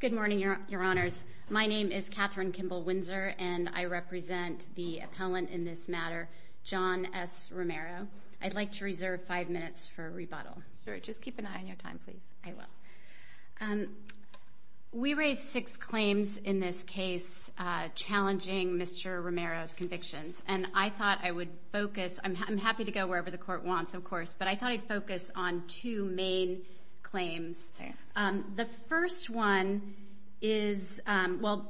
Good morning, your honors. My name is Catherine Kimball Windsor, and I represent the appellant in this matter, John S. Romero. I'd like to reserve five minutes for rebuttal. Sure, just keep an eye on your time, please. I will. We raised six claims in this case challenging Mr. Romero's convictions, and I thought I would focus, I'm happy to go wherever the court wants, of course, but I thought I'd focus on two main claims. The first one is, well,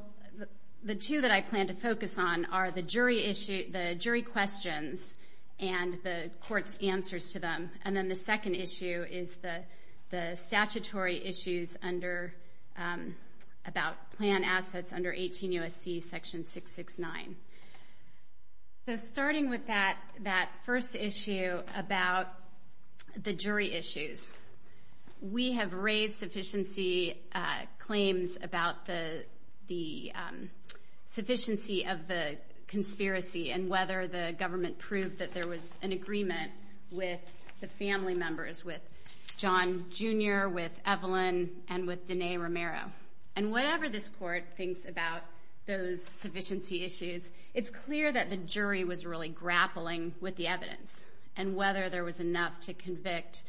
the two that I plan to focus on are the jury questions and the court's answers to them, and then the second issue is the statutory issues about plan assets under 18 U.S.C. section 669. So starting with that first issue about the jury issues, we have raised sufficiency claims about the sufficiency of the conspiracy and whether the government proved that there was an agreement with the family members, with John Jr., with Evelyn, and with Danae Romero. And whatever this court thinks about those sufficiency issues, it's clear that the jury was really grappling with the evidence and whether there was enough to convict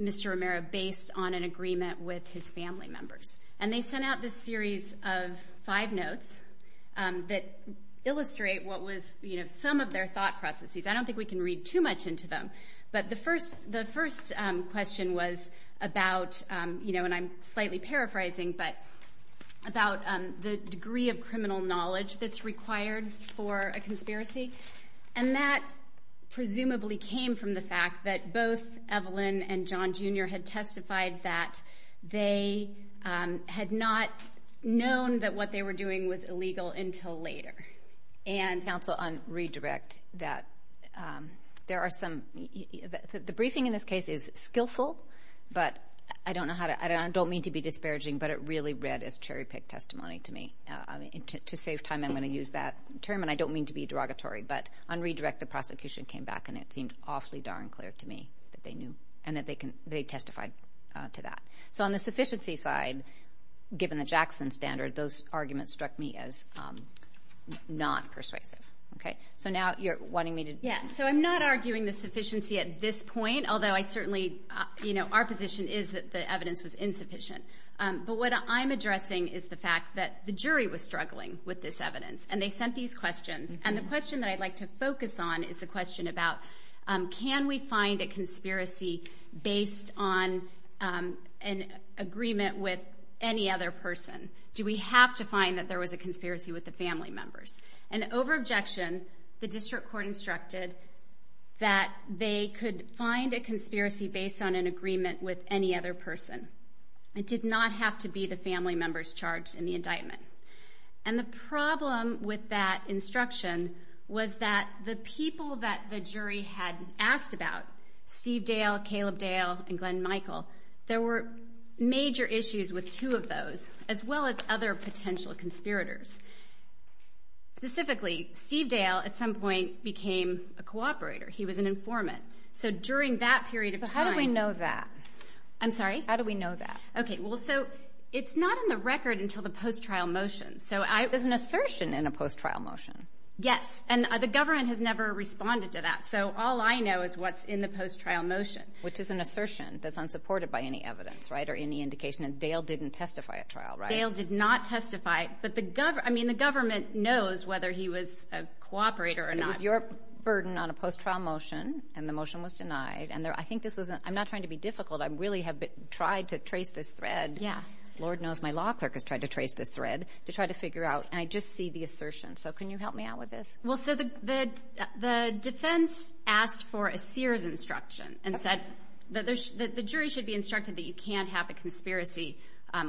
Mr. Romero based on an agreement with his family members. And they sent out this series of five notes that illustrate what was, you know, some of their thought processes. I don't think we can read too much into them, but the first question was about, you know, and I'm slightly paraphrasing, but about the degree of criminal knowledge that's required for a conspiracy. And that presumably came from the fact that both Evelyn and John Jr. had testified that they had not known that what they were doing was illegal until later. And, counsel, on redirect, that there are some – the briefing in this case is skillful, but I don't know how to – I don't mean to be disparaging, but it really read as cherry-picked testimony to me. To save time, I'm going to use that term, and I don't mean to be derogatory, but on redirect, the prosecution came back and it seemed awfully darn clear to me that they knew and that they testified to that. So on the sufficiency side, given the Jackson standard, those arguments struck me as non-persuasive. Okay? So now you're wanting me to – Yeah, so I'm not arguing the sufficiency at this point, although I certainly – you know, our position is that the evidence was insufficient. But what I'm addressing is the fact that the jury was struggling with this evidence, and they sent these questions. And the question that I'd like to focus on is the question about can we find a conspiracy based on an agreement with any other person? Do we have to find that there was a conspiracy with the family members? And over objection, the district court instructed that they could find a conspiracy based on an agreement with any other person. It did not have to be the family members charged in the indictment. And the problem with that instruction was that the people that the jury had asked about, Steve Dale, Caleb Dale, and Glenn Michael, there were major issues with two of those, as well as other potential conspirators. Specifically, Steve Dale at some point became a cooperator. He was an informant. So during that period of time – But how do we know that? I'm sorry? How do we know that? Okay. Well, so it's not in the record until the post-trial motion. So I – There's an assertion in a post-trial motion. Yes. And the government has never responded to that. So all I know is what's in the post-trial motion. Which is an assertion that's unsupported by any evidence, right, or any indication that Dale didn't testify at trial, right? Dale did not testify. But the – I mean, the government knows whether he was a cooperator or not. It was your burden on a post-trial motion, and the motion was denied. And I think this was – I'm not trying to be difficult. I really have tried to trace this thread. Yeah. Lord knows my law clerk has tried to trace this thread to try to figure out. And I just see the assertion. So can you help me out with this? Well, so the defense asked for a Sears instruction and said that the jury should be instructed that you can't have a conspiracy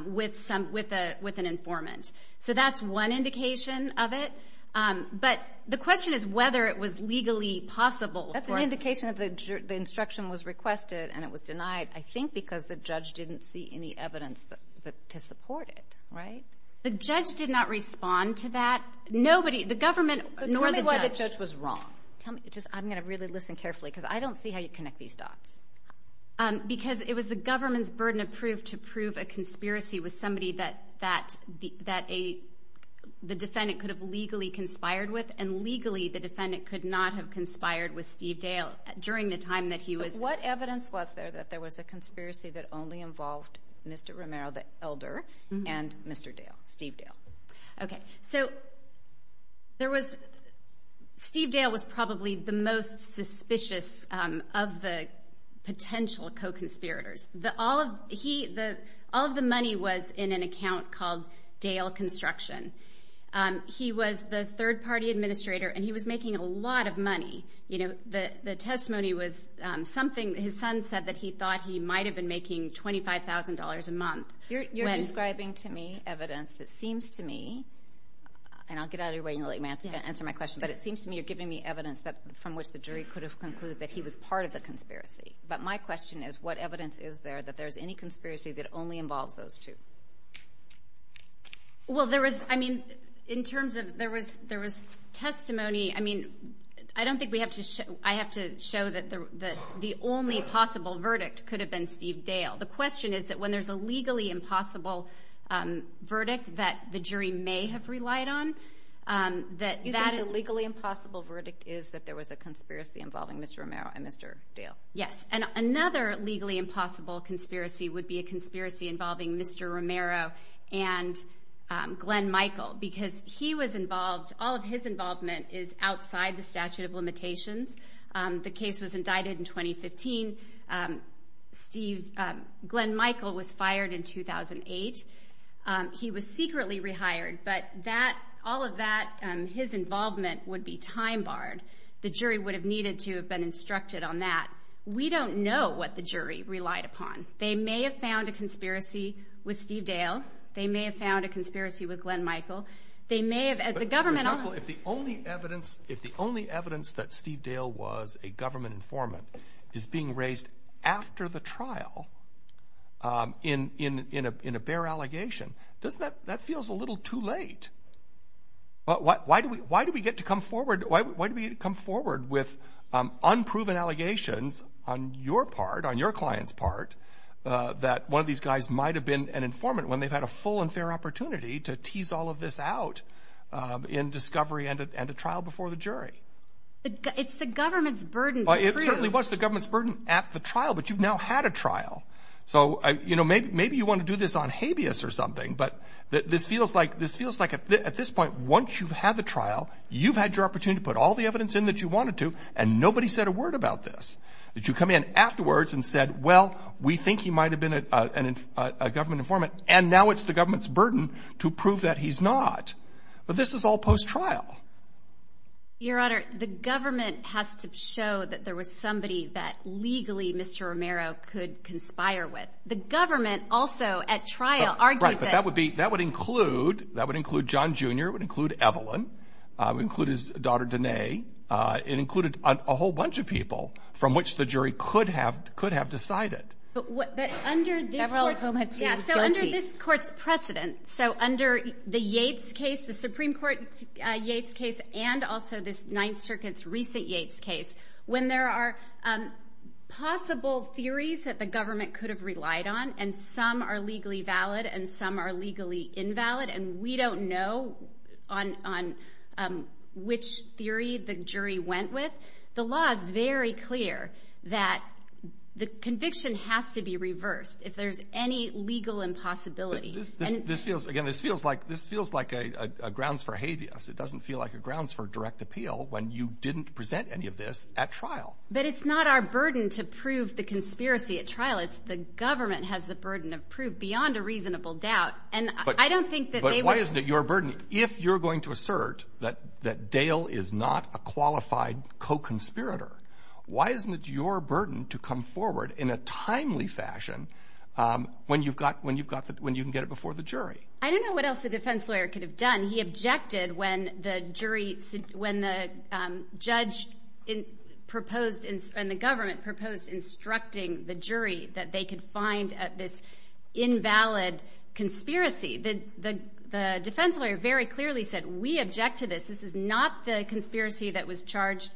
with an informant. So that's one indication of it. But the question is whether it was legally possible for – That's an indication that the instruction was requested and it was denied, I think, because the judge didn't see any evidence to support it, right? The judge did not respond to that. Nobody – the government nor the judge – Tell me why the judge was wrong. Tell me. I'm going to really listen carefully because I don't see how you connect these dots. Because it was the government's burden to prove a conspiracy with somebody that the defendant could have legally conspired with. And legally, the defendant could not have conspired with Steve Dale during the time that he was – But what evidence was there that there was a conspiracy that only involved Mr. Romero, the elder, and Mr. Dale, Steve Dale? Okay. So there was – Steve Dale was probably the most suspicious of the potential co-conspirators. All of the money was in an account called Dale Construction. He was the third-party administrator and he was making a lot of money. The testimony was something – his son said that he thought he might have been making $25,000 a month. You're describing to me evidence that seems to me – and I'll get out of your way and let you answer my question – but it seems to me you're giving me evidence from which the jury could have concluded that he was part of the conspiracy. But my question is, what evidence is there that there's any conspiracy that only involves those two? Well, there was – I mean, in terms of – there was testimony – I mean, I don't think we have to – I have to show that the only possible verdict could have been Steve Dale. The question is that when there's a legally impossible verdict that the jury may have relied on, that that is – You think the legally impossible verdict is that there was a conspiracy involving Mr. Romero and Mr. Dale? Yes. And another legally impossible conspiracy would be a conspiracy involving Mr. Romero and Glenn Michael because he was involved – all of his involvement is outside the statute of limitations. The case was indicted in 2015. Glenn Michael was fired in 2008. He was secretly rehired, but that – all of that – his involvement would be time-barred. The jury would have needed to have been instructed on that. We don't know what the jury relied upon. They may have found a conspiracy with Steve Dale. They may have found a conspiracy with Glenn Michael. They may have – the government – But, counsel, if the only evidence – if the only evidence that Steve Dale was a government informant is being raised after the trial in a bare allegation, doesn't that – that feels a little too late. Why do we get to come forward – why do we come forward with unproven allegations on your part, on your client's part, that one of these guys might have been an informant when they've had a full and fair opportunity to tease all of this out in discovery and a trial before the jury? It's the government's burden to prove. It certainly was the government's burden at the trial, but you've now had a trial. So, you know, maybe you want to do this on habeas or something, but this feels like – this feels like at this point, once you've had the trial, you've had your opportunity to put all the evidence in that you wanted to, and nobody said a word about this. Did you come in afterwards and said, well, we think he might have been a government informant, and now it's the government's burden to prove that he's not. But this is all post-trial. Your Honor, the government has to show that there was somebody that legally Mr. Romero could conspire with. The government also at trial argued that – Right, but that would be – that would include – that would include John Jr. It would include Evelyn. It would include his daughter, Danae. It included a whole bunch of people from which the jury could have – could have decided. But what – but under this court's – Several of whom have been guilty. Yeah, so under this court's precedent, so under the Yates case, the Supreme Court Yates case, and also this Ninth Circuit's recent Yates case, when there are possible theories that the government could have relied on, and some are legally valid and some are legally invalid, and we don't know on which theory the jury went with, the law is very clear that the conviction has to be reversed if there's any legal impossibility. This feels – again, this feels like – this feels like a grounds for habeas. It doesn't feel like a grounds for direct appeal when you didn't present any of this at trial. But it's not our burden to prove the conspiracy at trial. It's the government has the burden of proof beyond a reasonable doubt. And I don't think that they would – But why isn't it your burden if you're going to assert that Dale is not a qualified co-conspirator? Why isn't it your burden to come forward in a timely fashion when you've got – when you can get it before the jury? I don't know what else the defense lawyer could have done. He objected when the jury – when the judge proposed – and the government proposed instructing the jury that they could find this invalid conspiracy. The defense lawyer very clearly said, we object to this. This is not the conspiracy that was charged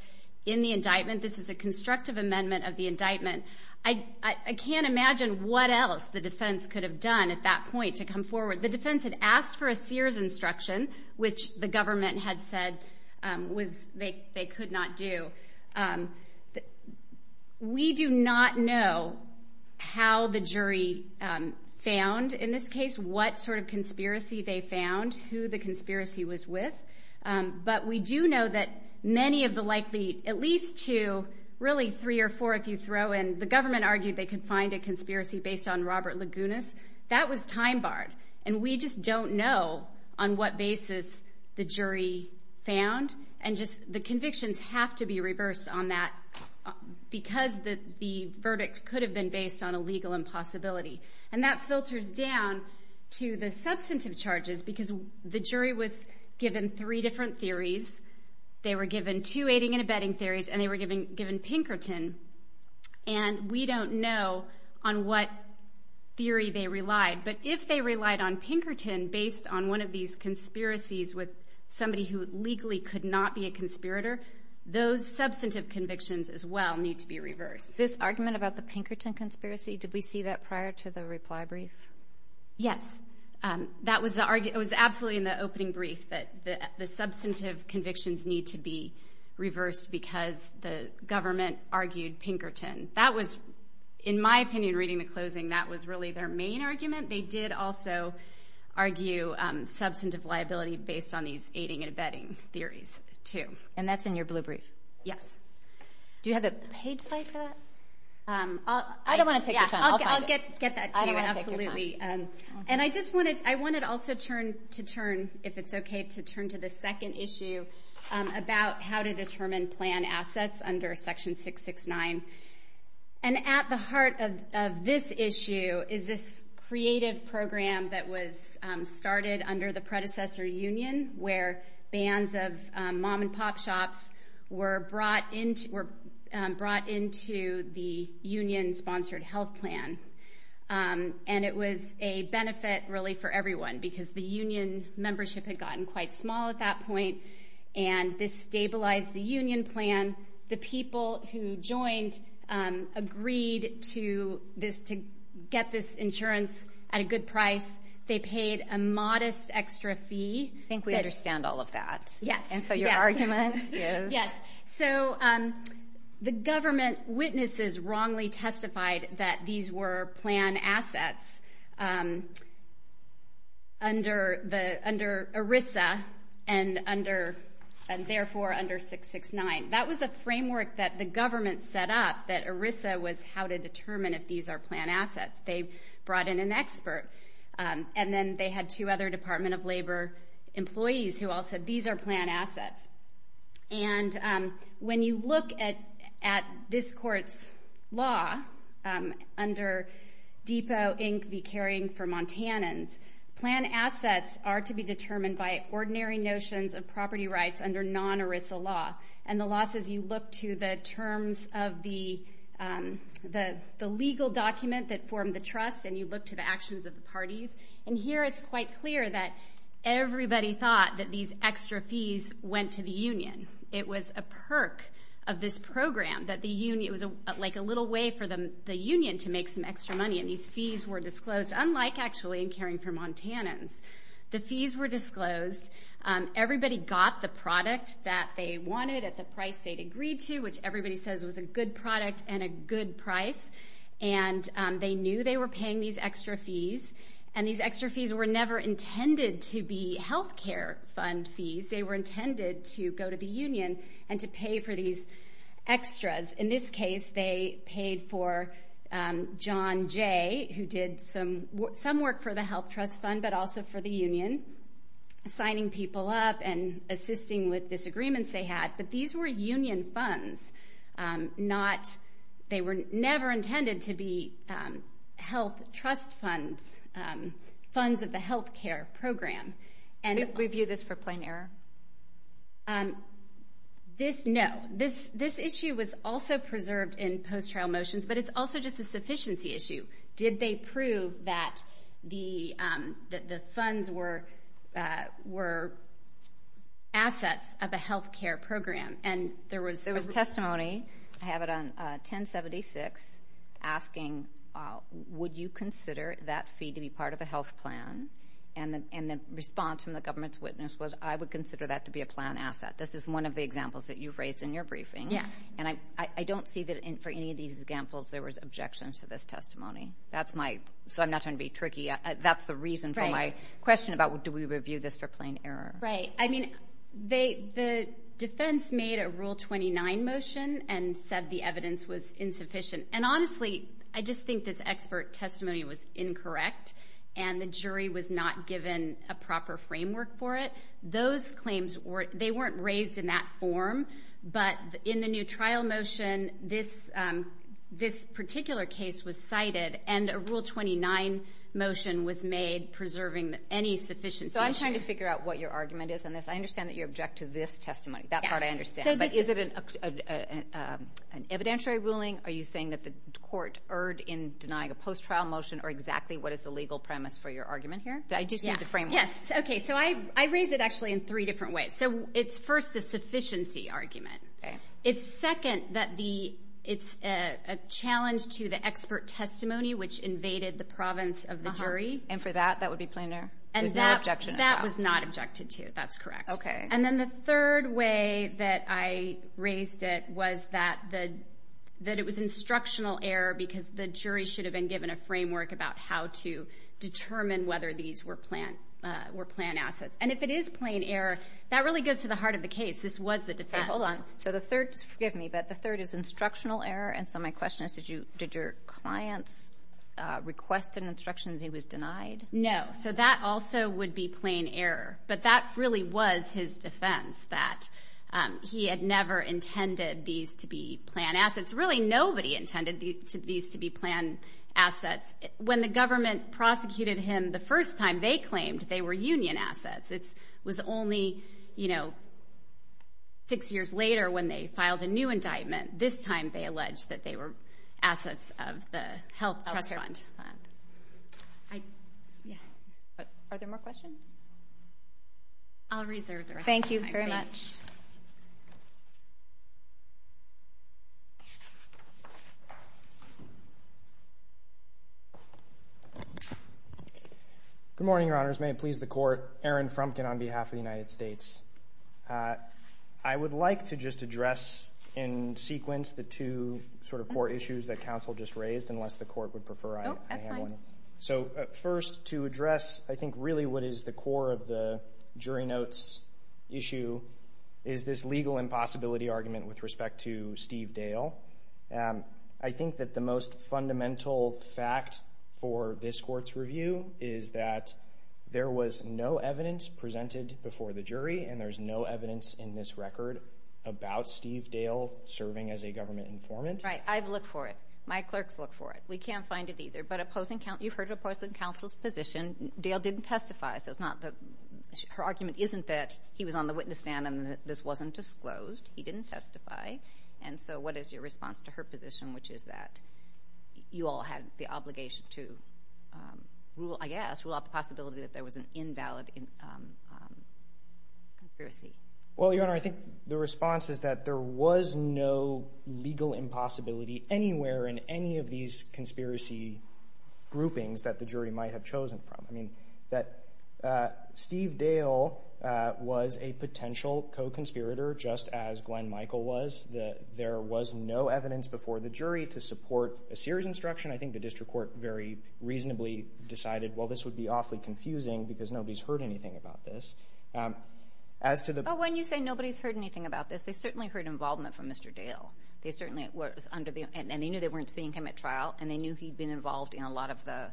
in the indictment. This is a constructive amendment of the indictment. I can't imagine what else the defense could have done at that point to come forward. The defense had asked for a Sears instruction, which the government had said was – they could not do. We do not know how the jury found, in this case, what sort of conspiracy they found, who the conspiracy was with. But we do know that many of the likely – at least two, really three or four if you throw in – the government argued they could find a conspiracy based on Robert Lagunas. That was time-barred. And we just don't know on what basis the jury found. And just the convictions have to be reversed on that because the verdict could have been based on a legal impossibility. And that filters down to the substantive charges because the jury was given three different theories. They were given two aiding and abetting theories, and they were given Pinkerton. And we don't know on what theory they relied. But if they relied on Pinkerton based on one of these conspiracies with somebody who legally could not be a conspirator, those substantive convictions as well need to be reversed. This argument about the Pinkerton conspiracy, did we see that prior to the reply brief? Yes. That was the – it was absolutely in the opening brief that the substantive convictions need to be reversed because the government argued Pinkerton. That was – in my opinion, reading the closing, that was really their main argument. They did also argue substantive liability based on these aiding and abetting theories too. And that's in your blue brief? Yes. Do you have the page for that? I don't want to take your time. I'll get that to you. I don't want to take your time. Absolutely. And I just wanted – I wanted also to turn, if it's okay, to turn to the second issue about how to determine plan assets under Section 669. And at the heart of this issue is this creative program that was started under the predecessor union where bands of mom-and-pop shops were brought into the union-sponsored health plan. And it was a benefit really for everyone because the union membership had gotten quite small at that point. And this stabilized the union plan. The people who joined agreed to this – to get this insurance at a good price. They paid a modest extra fee. I think we understand all of that. Yes. And so your argument is? Yes. So the government witnesses wrongly testified that these were plan assets under ERISA and therefore under 669. That was a framework that the government set up, that ERISA was how to determine if these are plan assets. They brought in an expert. And then they had two other Department of Labor employees who all said these are plan assets. And when you look at this court's law under Depot Inc. v. Caring for Montanans, plan assets are to be determined by ordinary notions of property rights under non-ERISA law. And the law says you look to the terms of the legal document that formed the trust and you look to the actions of the parties. And here it's quite clear that everybody thought that these extra fees went to the union. It was a perk of this program that the union – it was like a little way for the union to make some extra money. And these fees were disclosed, unlike actually in Caring for Montanans. The fees were disclosed. Everybody got the product that they wanted at the price they'd agreed to, which everybody says was a good product and a good price. And they knew they were paying these extra fees. And these extra fees were never intended to be health care fund fees. They were intended to go to the union and to pay for these extras. In this case, they paid for John Jay, who did some work for the health trust fund but also for the union, signing people up and assisting with disagreements they had. But these were union funds. They were never intended to be health trust funds, funds of the health care program. Did we view this for plain error? No. This issue was also preserved in post-trial motions, but it's also just a sufficiency issue. Did they prove that the funds were assets of a health care program? There was testimony, I have it on 1076, asking, would you consider that fee to be part of the health plan? And the response from the government's witness was, I would consider that to be a plan asset. This is one of the examples that you've raised in your briefing. And I don't see that for any of these examples there was objection to this testimony. So I'm not trying to be tricky. That's the reason for my question about do we review this for plain error. Right. I mean, the defense made a Rule 29 motion and said the evidence was insufficient. And honestly, I just think this expert testimony was incorrect and the jury was not given a proper framework for it. Those claims, they weren't raised in that form. But in the new trial motion, this particular case was cited and a Rule 29 motion was made preserving any sufficiency issue. I'm just trying to figure out what your argument is on this. I understand that you object to this testimony. That part I understand. But is it an evidentiary ruling? Are you saying that the court erred in denying a post-trial motion or exactly what is the legal premise for your argument here? I just need the framework. Yes. Okay, so I raised it actually in three different ways. So it's first a sufficiency argument. It's second that it's a challenge to the expert testimony, which invaded the province of the jury. And for that, that would be plain error? There's no objection at all? That was not objected to. That's correct. Okay. And then the third way that I raised it was that it was instructional error because the jury should have been given a framework about how to determine whether these were planned assets. And if it is plain error, that really goes to the heart of the case. This was the defense. Hold on. So the third is instructional error, and so my question is did your clients request an instruction that he was denied? No. So that also would be plain error. But that really was his defense, that he had never intended these to be planned assets. Really, nobody intended these to be planned assets. When the government prosecuted him the first time, they claimed they were union assets. It was only six years later when they filed a new indictment. This time they alleged that they were assets of the health trust fund. Are there more questions? I'll reserve the rest of the time. Thank you very much. Good morning, Your Honors. May it please the Court. Aaron Frumkin on behalf of the United States. I would like to just address in sequence the two sort of core issues that counsel just raised, unless the Court would prefer I have one. No, that's fine. So first, to address I think really what is the core of the jury notes issue is this legal impossibility argument with respect to Steve Dale. I think that the most fundamental fact for this Court's review is that there was no evidence presented before the jury, and there's no evidence in this record about Steve Dale serving as a government informant. Right. I've looked for it. My clerks look for it. We can't find it either. But opposing counsel's position, Dale didn't testify, so her argument isn't that he was on the witness stand and this wasn't disclosed. He didn't testify. And so what is your response to her position, which is that you all had the obligation to rule, I guess, to allow the possibility that there was an invalid conspiracy? Well, Your Honor, I think the response is that there was no legal impossibility anywhere in any of these conspiracy groupings that the jury might have chosen from. Steve Dale was a potential co-conspirator, just as Glenn Michael was. There was no evidence before the jury to support a serious instruction. I think the district court very reasonably decided, well, this would be awfully confusing because nobody's heard anything about this. When you say nobody's heard anything about this, they certainly heard involvement from Mr. Dale, and they knew they weren't seeing him at trial, and they knew he'd been involved in a lot of the—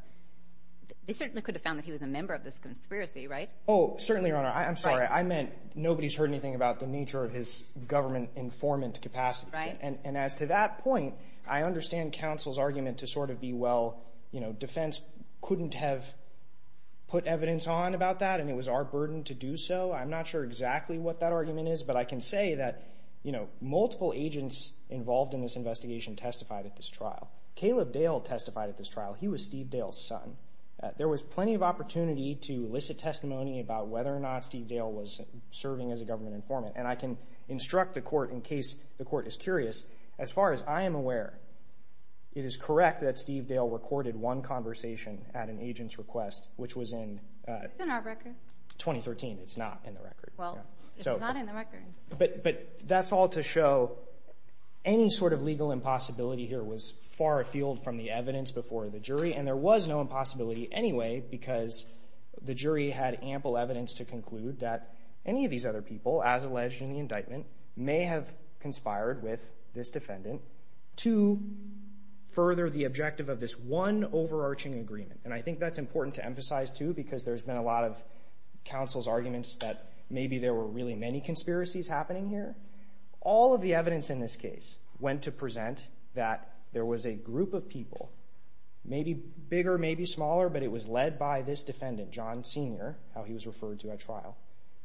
they certainly could have found that he was a member of this conspiracy, right? Oh, certainly, Your Honor. I'm sorry. I meant nobody's heard anything about the nature of his government informant capacity. Right. And as to that point, I understand counsel's argument to sort of be, well, defense couldn't have put evidence on about that, and it was our burden to do so. I'm not sure exactly what that argument is, but I can say that multiple agents involved in this investigation testified at this trial. Caleb Dale testified at this trial. He was Steve Dale's son. There was plenty of opportunity to elicit testimony about whether or not Steve Dale was serving as a government informant, and I can instruct the court in case the court is curious. As far as I am aware, it is correct that Steve Dale recorded one conversation at an agent's request, which was in— It's in our record. —2013. It's not in the record. Well, it's not in the record. But that's all to show any sort of legal impossibility here was far afield from the evidence before the jury, and there was no impossibility anyway because the jury had ample evidence to conclude that any of these other people, as alleged in the indictment, may have conspired with this defendant to further the objective of this one overarching agreement. And I think that's important to emphasize too because there's been a lot of counsel's arguments that maybe there were really many conspiracies happening here. All of the evidence in this case went to present that there was a group of people, maybe bigger, maybe smaller, but it was led by this defendant, John Sr., how he was referred to at trial,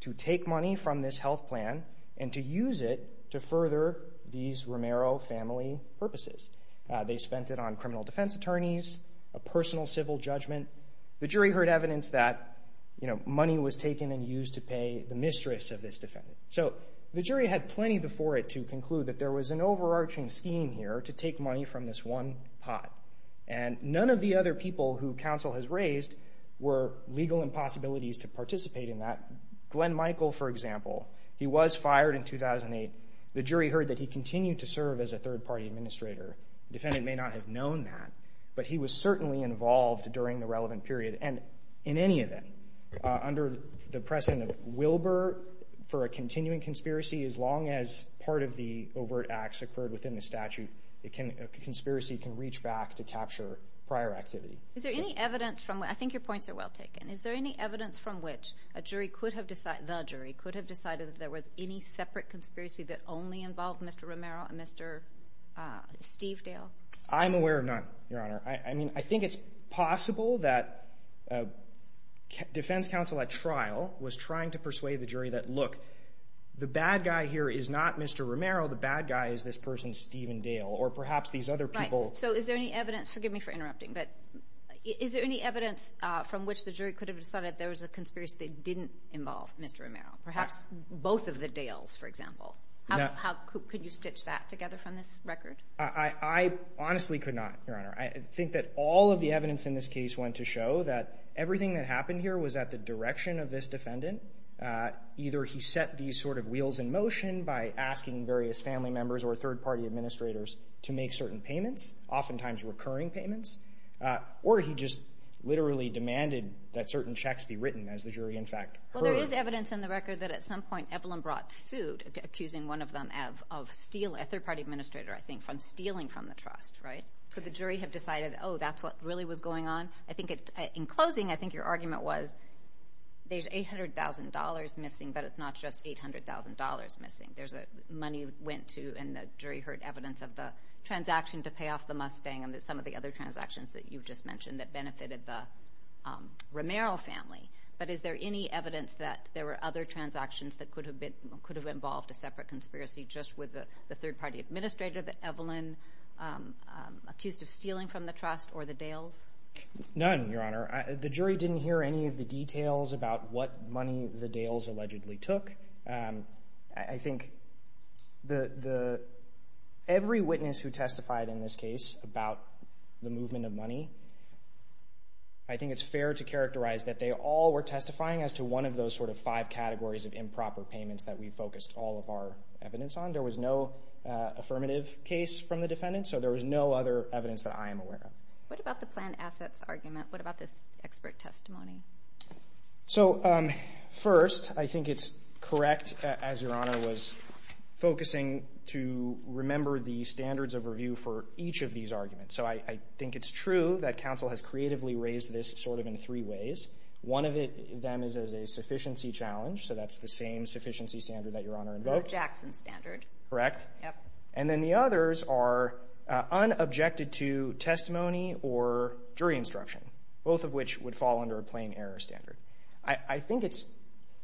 to take money from this health plan and to use it to further these Romero family purposes. They spent it on criminal defense attorneys, a personal civil judgment. The jury heard evidence that money was taken and used to pay the mistress of this defendant. So the jury had plenty before it to conclude that there was an overarching scheme here to take money from this one pot, and none of the other people who counsel has raised were legal impossibilities to participate in that. Glenn Michael, for example, he was fired in 2008. The jury heard that he continued to serve as a third-party administrator. The defendant may not have known that, but he was certainly involved during the relevant period and in any event under the precedent of Wilbur for a continuing conspiracy, as long as part of the overt acts occurred within the statute, a conspiracy can reach back to capture prior activity. I think your points are well taken. Is there any evidence from which the jury could have decided that there was any separate conspiracy that only involved Mr. Romero and Mr. Stevedale? I'm aware of none, Your Honor. I think it's possible that defense counsel at trial was trying to persuade the jury that, look, the bad guy here is not Mr. Romero. The bad guy is this person, Stevedale, or perhaps these other people. Right. So is there any evidence? Forgive me for interrupting, but is there any evidence from which the jury could have decided there was a conspiracy that didn't involve Mr. Romero, perhaps both of the Dales, for example? Could you stitch that together from this record? I honestly could not, Your Honor. I think that all of the evidence in this case went to show that everything that happened here was at the direction of this defendant. Either he set these sort of wheels in motion by asking various family members or third-party administrators to make certain payments, oftentimes recurring payments, or he just literally demanded that certain checks be written, as the jury, in fact, heard. Well, there is evidence in the record that at some point Evelyn Brott sued, accusing one of them of stealing, a third-party administrator, I think, from stealing from the trust, right? Could the jury have decided, oh, that's what really was going on? In closing, I think your argument was there's $800,000 missing, but it's not just $800,000 missing. There's money went to, and the jury heard evidence of the transaction to pay off the Mustang and some of the other transactions that you've just mentioned that benefited the Romero family. But is there any evidence that there were other transactions that could have involved a separate conspiracy just with the third-party administrator, that Evelyn accused of stealing from the trust or the Dales? None, Your Honor. The jury didn't hear any of the details about what money the Dales allegedly took. I think every witness who testified in this case about the movement of money, I think it's fair to characterize that they all were testifying as to one of those sort of five categories of improper payments that we focused all of our evidence on. There was no affirmative case from the defendants, so there was no other evidence that I am aware of. What about the planned assets argument? What about this expert testimony? So first, I think it's correct, as Your Honor was focusing, to remember the standards of review for each of these arguments. So I think it's true that counsel has creatively raised this sort of in three ways. One of them is as a sufficiency challenge, so that's the same sufficiency standard that Your Honor invoked. The Jackson standard. Correct. And then the others are unobjected to testimony or jury instruction, both of which would fall under a plain error standard. I think it's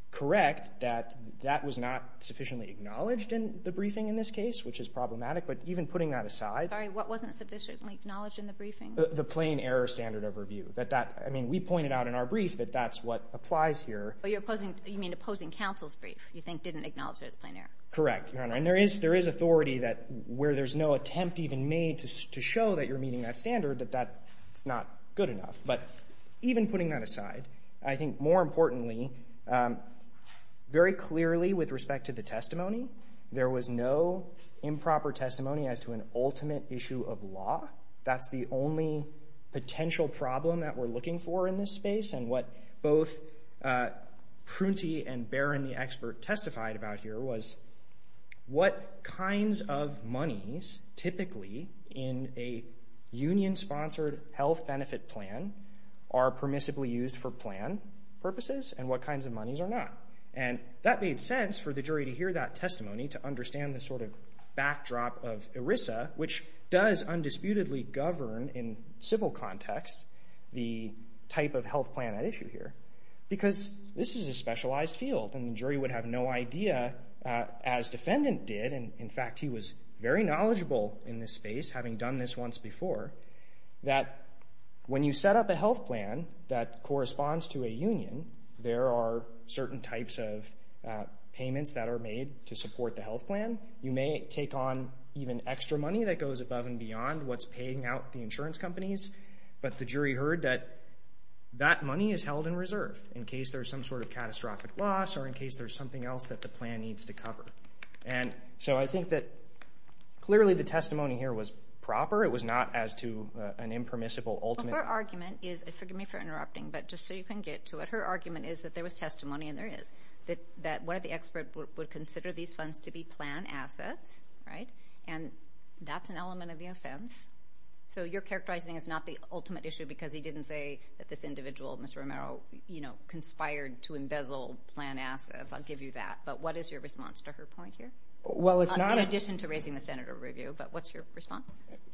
correct that that was not sufficiently acknowledged in the briefing in this case, which is problematic, but even putting that aside. Sorry, what wasn't sufficiently acknowledged in the briefing? The plain error standard of review. I mean, we pointed out in our brief that that's what applies here. You mean opposing counsel's brief you think didn't acknowledge there's a plain error. Correct, Your Honor, and there is authority where there's no attempt even made to show that you're meeting that standard, that that's not good enough. But even putting that aside, I think more importantly, very clearly with respect to the testimony, there was no improper testimony as to an ultimate issue of law. That's the only potential problem that we're looking for in this space, and what both Prunty and Barron, the expert, testified about here was what kinds of monies typically in a union-sponsored health benefit plan are permissibly used for plan purposes and what kinds of monies are not. And that made sense for the jury to hear that testimony, to understand the sort of backdrop of ERISA, which does undisputedly govern in civil context the type of health plan at issue here. Because this is a specialized field, and the jury would have no idea, as defendant did, and in fact he was very knowledgeable in this space, having done this once before, that when you set up a health plan that corresponds to a union, there are certain types of payments that are made to support the health plan. You may take on even extra money that goes above and beyond what's paying out the insurance companies, but the jury heard that that money is held in reserve in case there's some sort of catastrophic loss or in case there's something else that the plan needs to cover. And so I think that clearly the testimony here was proper. It was not as to an impermissible ultimate. Her argument is, forgive me for interrupting, but just so you can get to it, her argument is that there was testimony, and there is, that one of the experts would consider these funds to be plan assets, right? And that's an element of the offense. So your characterizing is not the ultimate issue because he didn't say that this individual, Mr. Romero, conspired to embezzle plan assets. I'll give you that. But what is your response to her point here? In addition to raising the standard of review, but what's your response?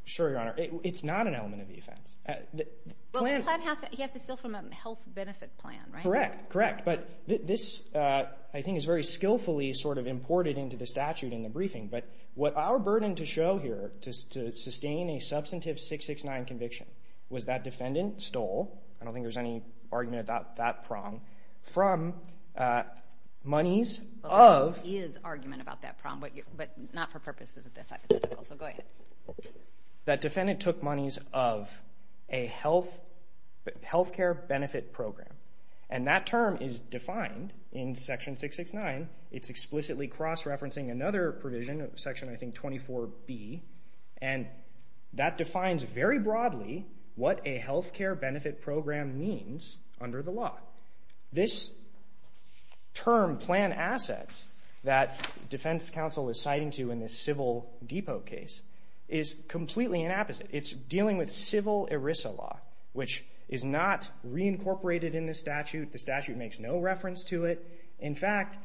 Sure, Your Honor. It's not an element of the offense. He has to steal from a health benefit plan, right? Correct, correct. But this, I think, is very skillfully sort of imported into the statute in the briefing. But what our burden to show here, to sustain a substantive 669 conviction, was that defendant stole, I don't think there's any argument about that prong, from monies of... There is argument about that prong, but not for purposes of this hypothetical. So go ahead. That defendant took monies of a health care benefit program. And that term is defined in Section 669. It's explicitly cross-referencing another provision, Section, I think, 24B. And that defines very broadly what a health care benefit program means under the law. This term, plan assets, that defense counsel is citing to in this Civil Depot case, is completely an opposite. It's dealing with civil ERISA law, which is not reincorporated in the statute. The statute makes no reference to it. In fact,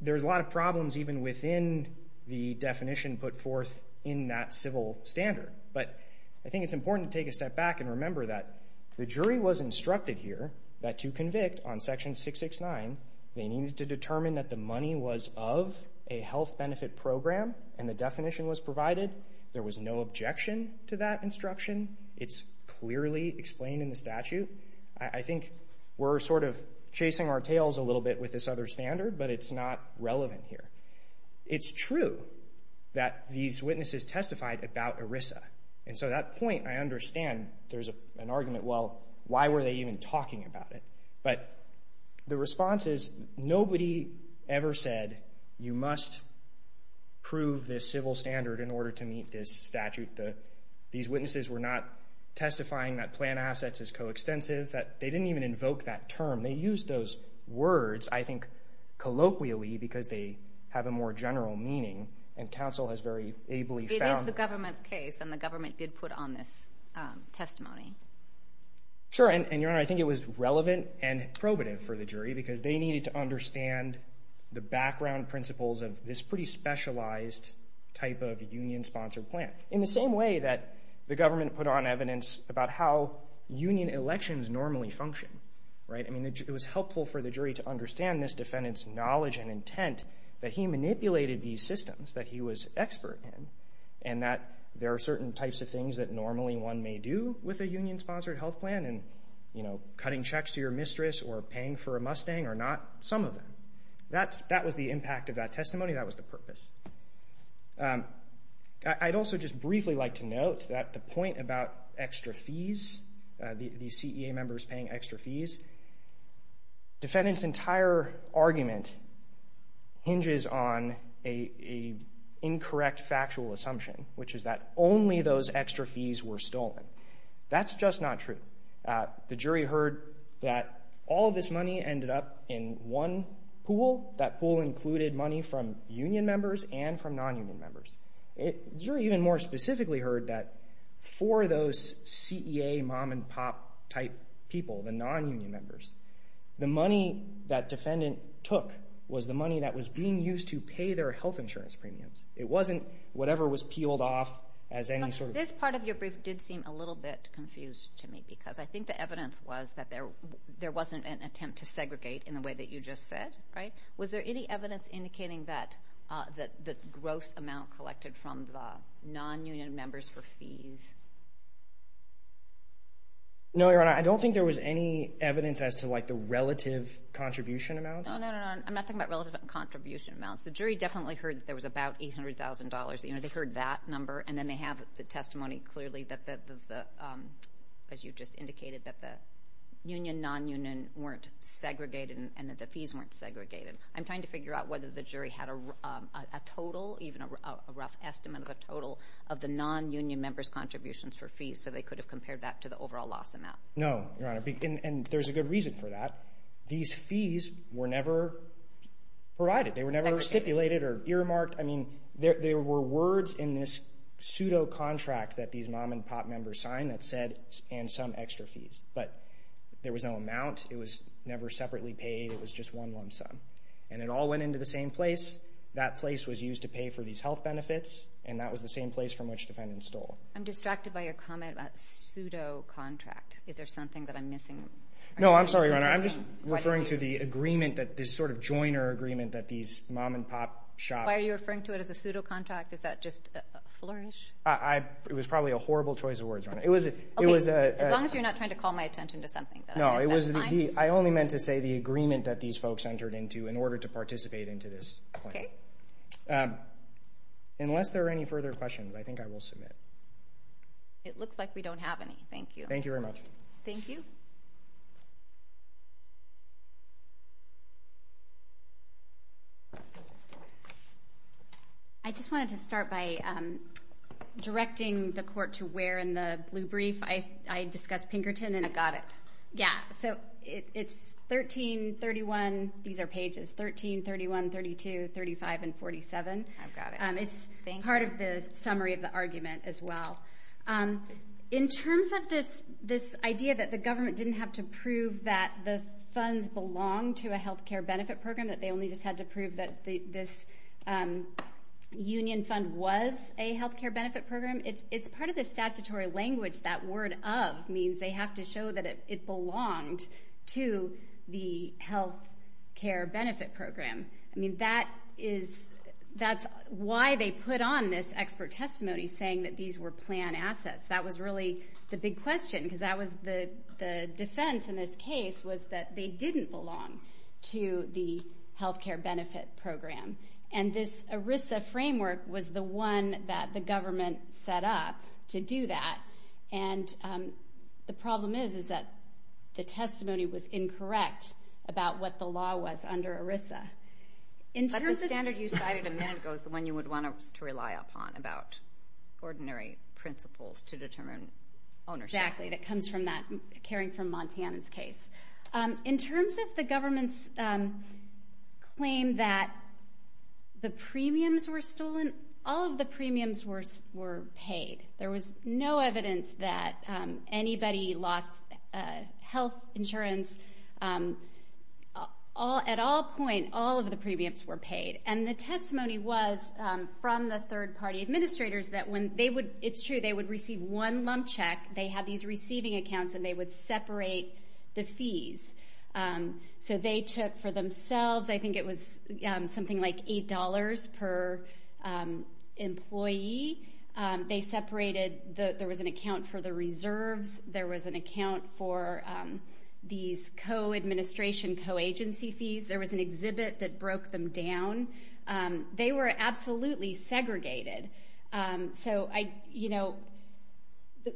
there's a lot of problems even within the definition put forth in that civil standard. But I think it's important to take a step back and remember that the jury was instructed here that to convict on Section 669, they needed to determine that the money was of a health benefit program, and the definition was provided. It's clearly explained in the statute. I think we're sort of chasing our tails a little bit with this other standard, but it's not relevant here. It's true that these witnesses testified about ERISA. And so at that point, I understand there's an argument, well, why were they even talking about it? But the response is nobody ever said, you must prove this civil standard in order to meet this statute. These witnesses were not testifying that plan assets is coextensive. They didn't even invoke that term. They used those words, I think, colloquially because they have a more general meaning, and counsel has very ably found... It is the government's case, and the government did put on this testimony. Sure, and, Your Honor, I think it was relevant and probative for the jury because they needed to understand the background principles of this pretty specialized type of union-sponsored plan. In the same way that the government put on evidence about how union elections normally function. It was helpful for the jury to understand this defendant's knowledge and intent that he manipulated these systems that he was expert in and that there are certain types of things that normally one may do with a union-sponsored health plan, and cutting checks to your mistress or paying for a Mustang or not, some of them. That was the impact of that testimony. That was the purpose. I'd also just briefly like to note that the point about extra fees, these CEA members paying extra fees, defendant's entire argument hinges on an incorrect factual assumption, which is that only those extra fees were stolen. That's just not true. The jury heard that all this money ended up in one pool. That pool included money from union members and from non-union members. The jury even more specifically heard that for those CEA mom-and-pop type people, the non-union members, the money that defendant took was the money that was being used to pay their health insurance premiums. It wasn't whatever was peeled off as any sort of... This part of your brief did seem a little bit confused to me because I think the evidence was that there wasn't an attempt to segregate in the way that you just said. Was there any evidence indicating that the gross amount collected from the non-union members for fees? No, Your Honor. I don't think there was any evidence as to the relative contribution amounts. No, no, no. I'm not talking about relative contribution amounts. The jury definitely heard that there was about $800,000. They heard that number, and then they have the testimony clearly that, as you just indicated, that the union, non-union weren't segregated and that the fees weren't segregated. I'm trying to figure out whether the jury had a total, even a rough estimate of a total, of the non-union members' contributions for fees so they could have compared that to the overall loss amount. No, Your Honor, and there's a good reason for that. These fees were never provided. They were never stipulated or earmarked. I mean, there were words in this pseudo-contract that these Mom and Pop members signed that said, and some extra fees, but there was no amount. It was never separately paid. It was just one lump sum. And it all went into the same place. That place was used to pay for these health benefits, and that was the same place from which defendants stole. I'm distracted by your comment about pseudo-contract. Is there something that I'm missing? No, I'm sorry, Your Honor. I'm just referring to the agreement, this sort of joiner agreement that these Mom and Pop shoppers... Why are you referring to it as a pseudo-contract? Is that just a flourish? It was probably a horrible choice of words, Your Honor. Okay, as long as you're not trying to call my attention to something. No, I only meant to say the agreement that these folks entered into in order to participate into this plan. Okay. Unless there are any further questions, I think I will submit. It looks like we don't have any. Thank you. Thank you very much. Thank you. I just wanted to start by directing the court to where in the blue brief I discussed Pinkerton. I've got it. Yeah, so it's 13, 31. These are pages 13, 31, 32, 35, and 47. I've got it. It's part of the summary of the argument as well. In terms of this idea that the government didn't have to prove that the funds belonged to a health care benefit program, that they only just had to prove that this union fund was a health care benefit program, it's part of the statutory language. That word of means they have to show that it belonged to the health care benefit program. I mean, that's why they put on this expert testimony saying that these were plan assets. That was really the big question because the defense in this case was that they didn't belong to the health care benefit program. And this ERISA framework was the one that the government set up to do that. And the problem is that the testimony was incorrect about what the law was under ERISA. But the standard you cited a minute ago is the one you would want us to rely upon about ordinary principles to determine ownership. Exactly. That comes from that Caring for Montana's case. In terms of the government's claim that the premiums were stolen, all of the premiums were paid. There was no evidence that anybody lost health insurance. At all points, all of the premiums were paid. And the testimony was from the third-party administrators that when they would receive one lump check, they had these receiving accounts and they would separate the fees. So they took for themselves, I think it was something like $8 per employee. They separated. There was an account for the reserves. There was an account for these co-administration, co-agency fees. There was an exhibit that broke them down. They were absolutely segregated. So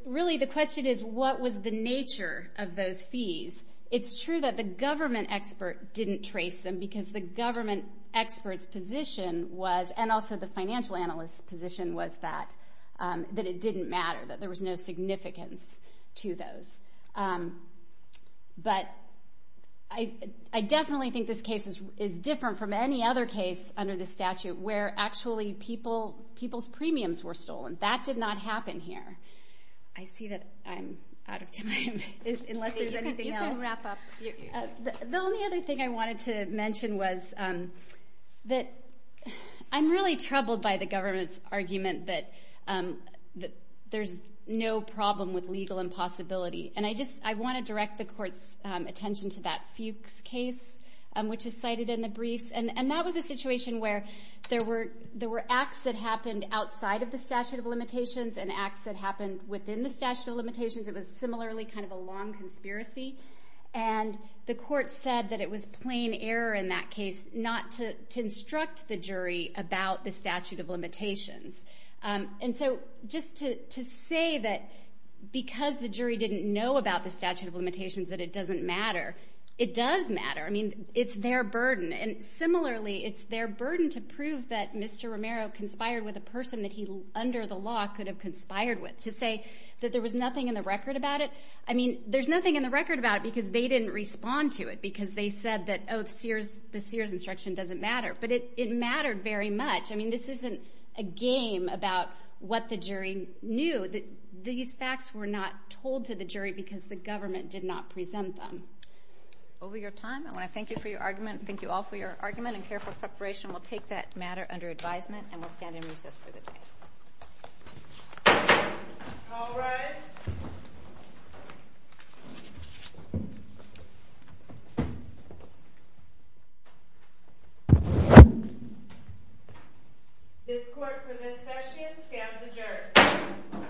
really the question is, what was the nature of those fees? It's true that the government expert didn't trace them because the government expert's position was, and also the financial analyst's position was that it didn't matter, that there was no significance to those. But I definitely think this case is different from any other case under the statute where actually people's premiums were stolen. That did not happen here. I see that I'm out of time, unless there's anything else. You can wrap up. The only other thing I wanted to mention was that I'm really troubled by the government's argument that there's no problem with legal impossibility. And I want to direct the Court's attention to that Fuchs case, which is cited in the briefs. And that was a situation where there were acts that happened outside of the statute of limitations and acts that happened within the statute of limitations. It was similarly kind of a long conspiracy. And the Court said that it was plain error in that case not to instruct the jury about the statute of limitations. And so just to say that because the jury didn't know about the statute of limitations that it doesn't matter, it does matter. I mean, it's their burden. And similarly, it's their burden to prove that Mr. Romero conspired with a person that he, under the law, could have conspired with, to say that there was nothing in the record about it. I mean, there's nothing in the record about it because they didn't respond to it, because they said that, oh, the Sears instruction doesn't matter. But it mattered very much. I mean, this isn't a game about what the jury knew. These facts were not told to the jury because the government did not present them. Over your time, I want to thank you for your argument. Thank you all for your argument and careful preparation. We'll take that matter under advisement and we'll stand in recess for the day. All rise. This Court for this session stands adjourned.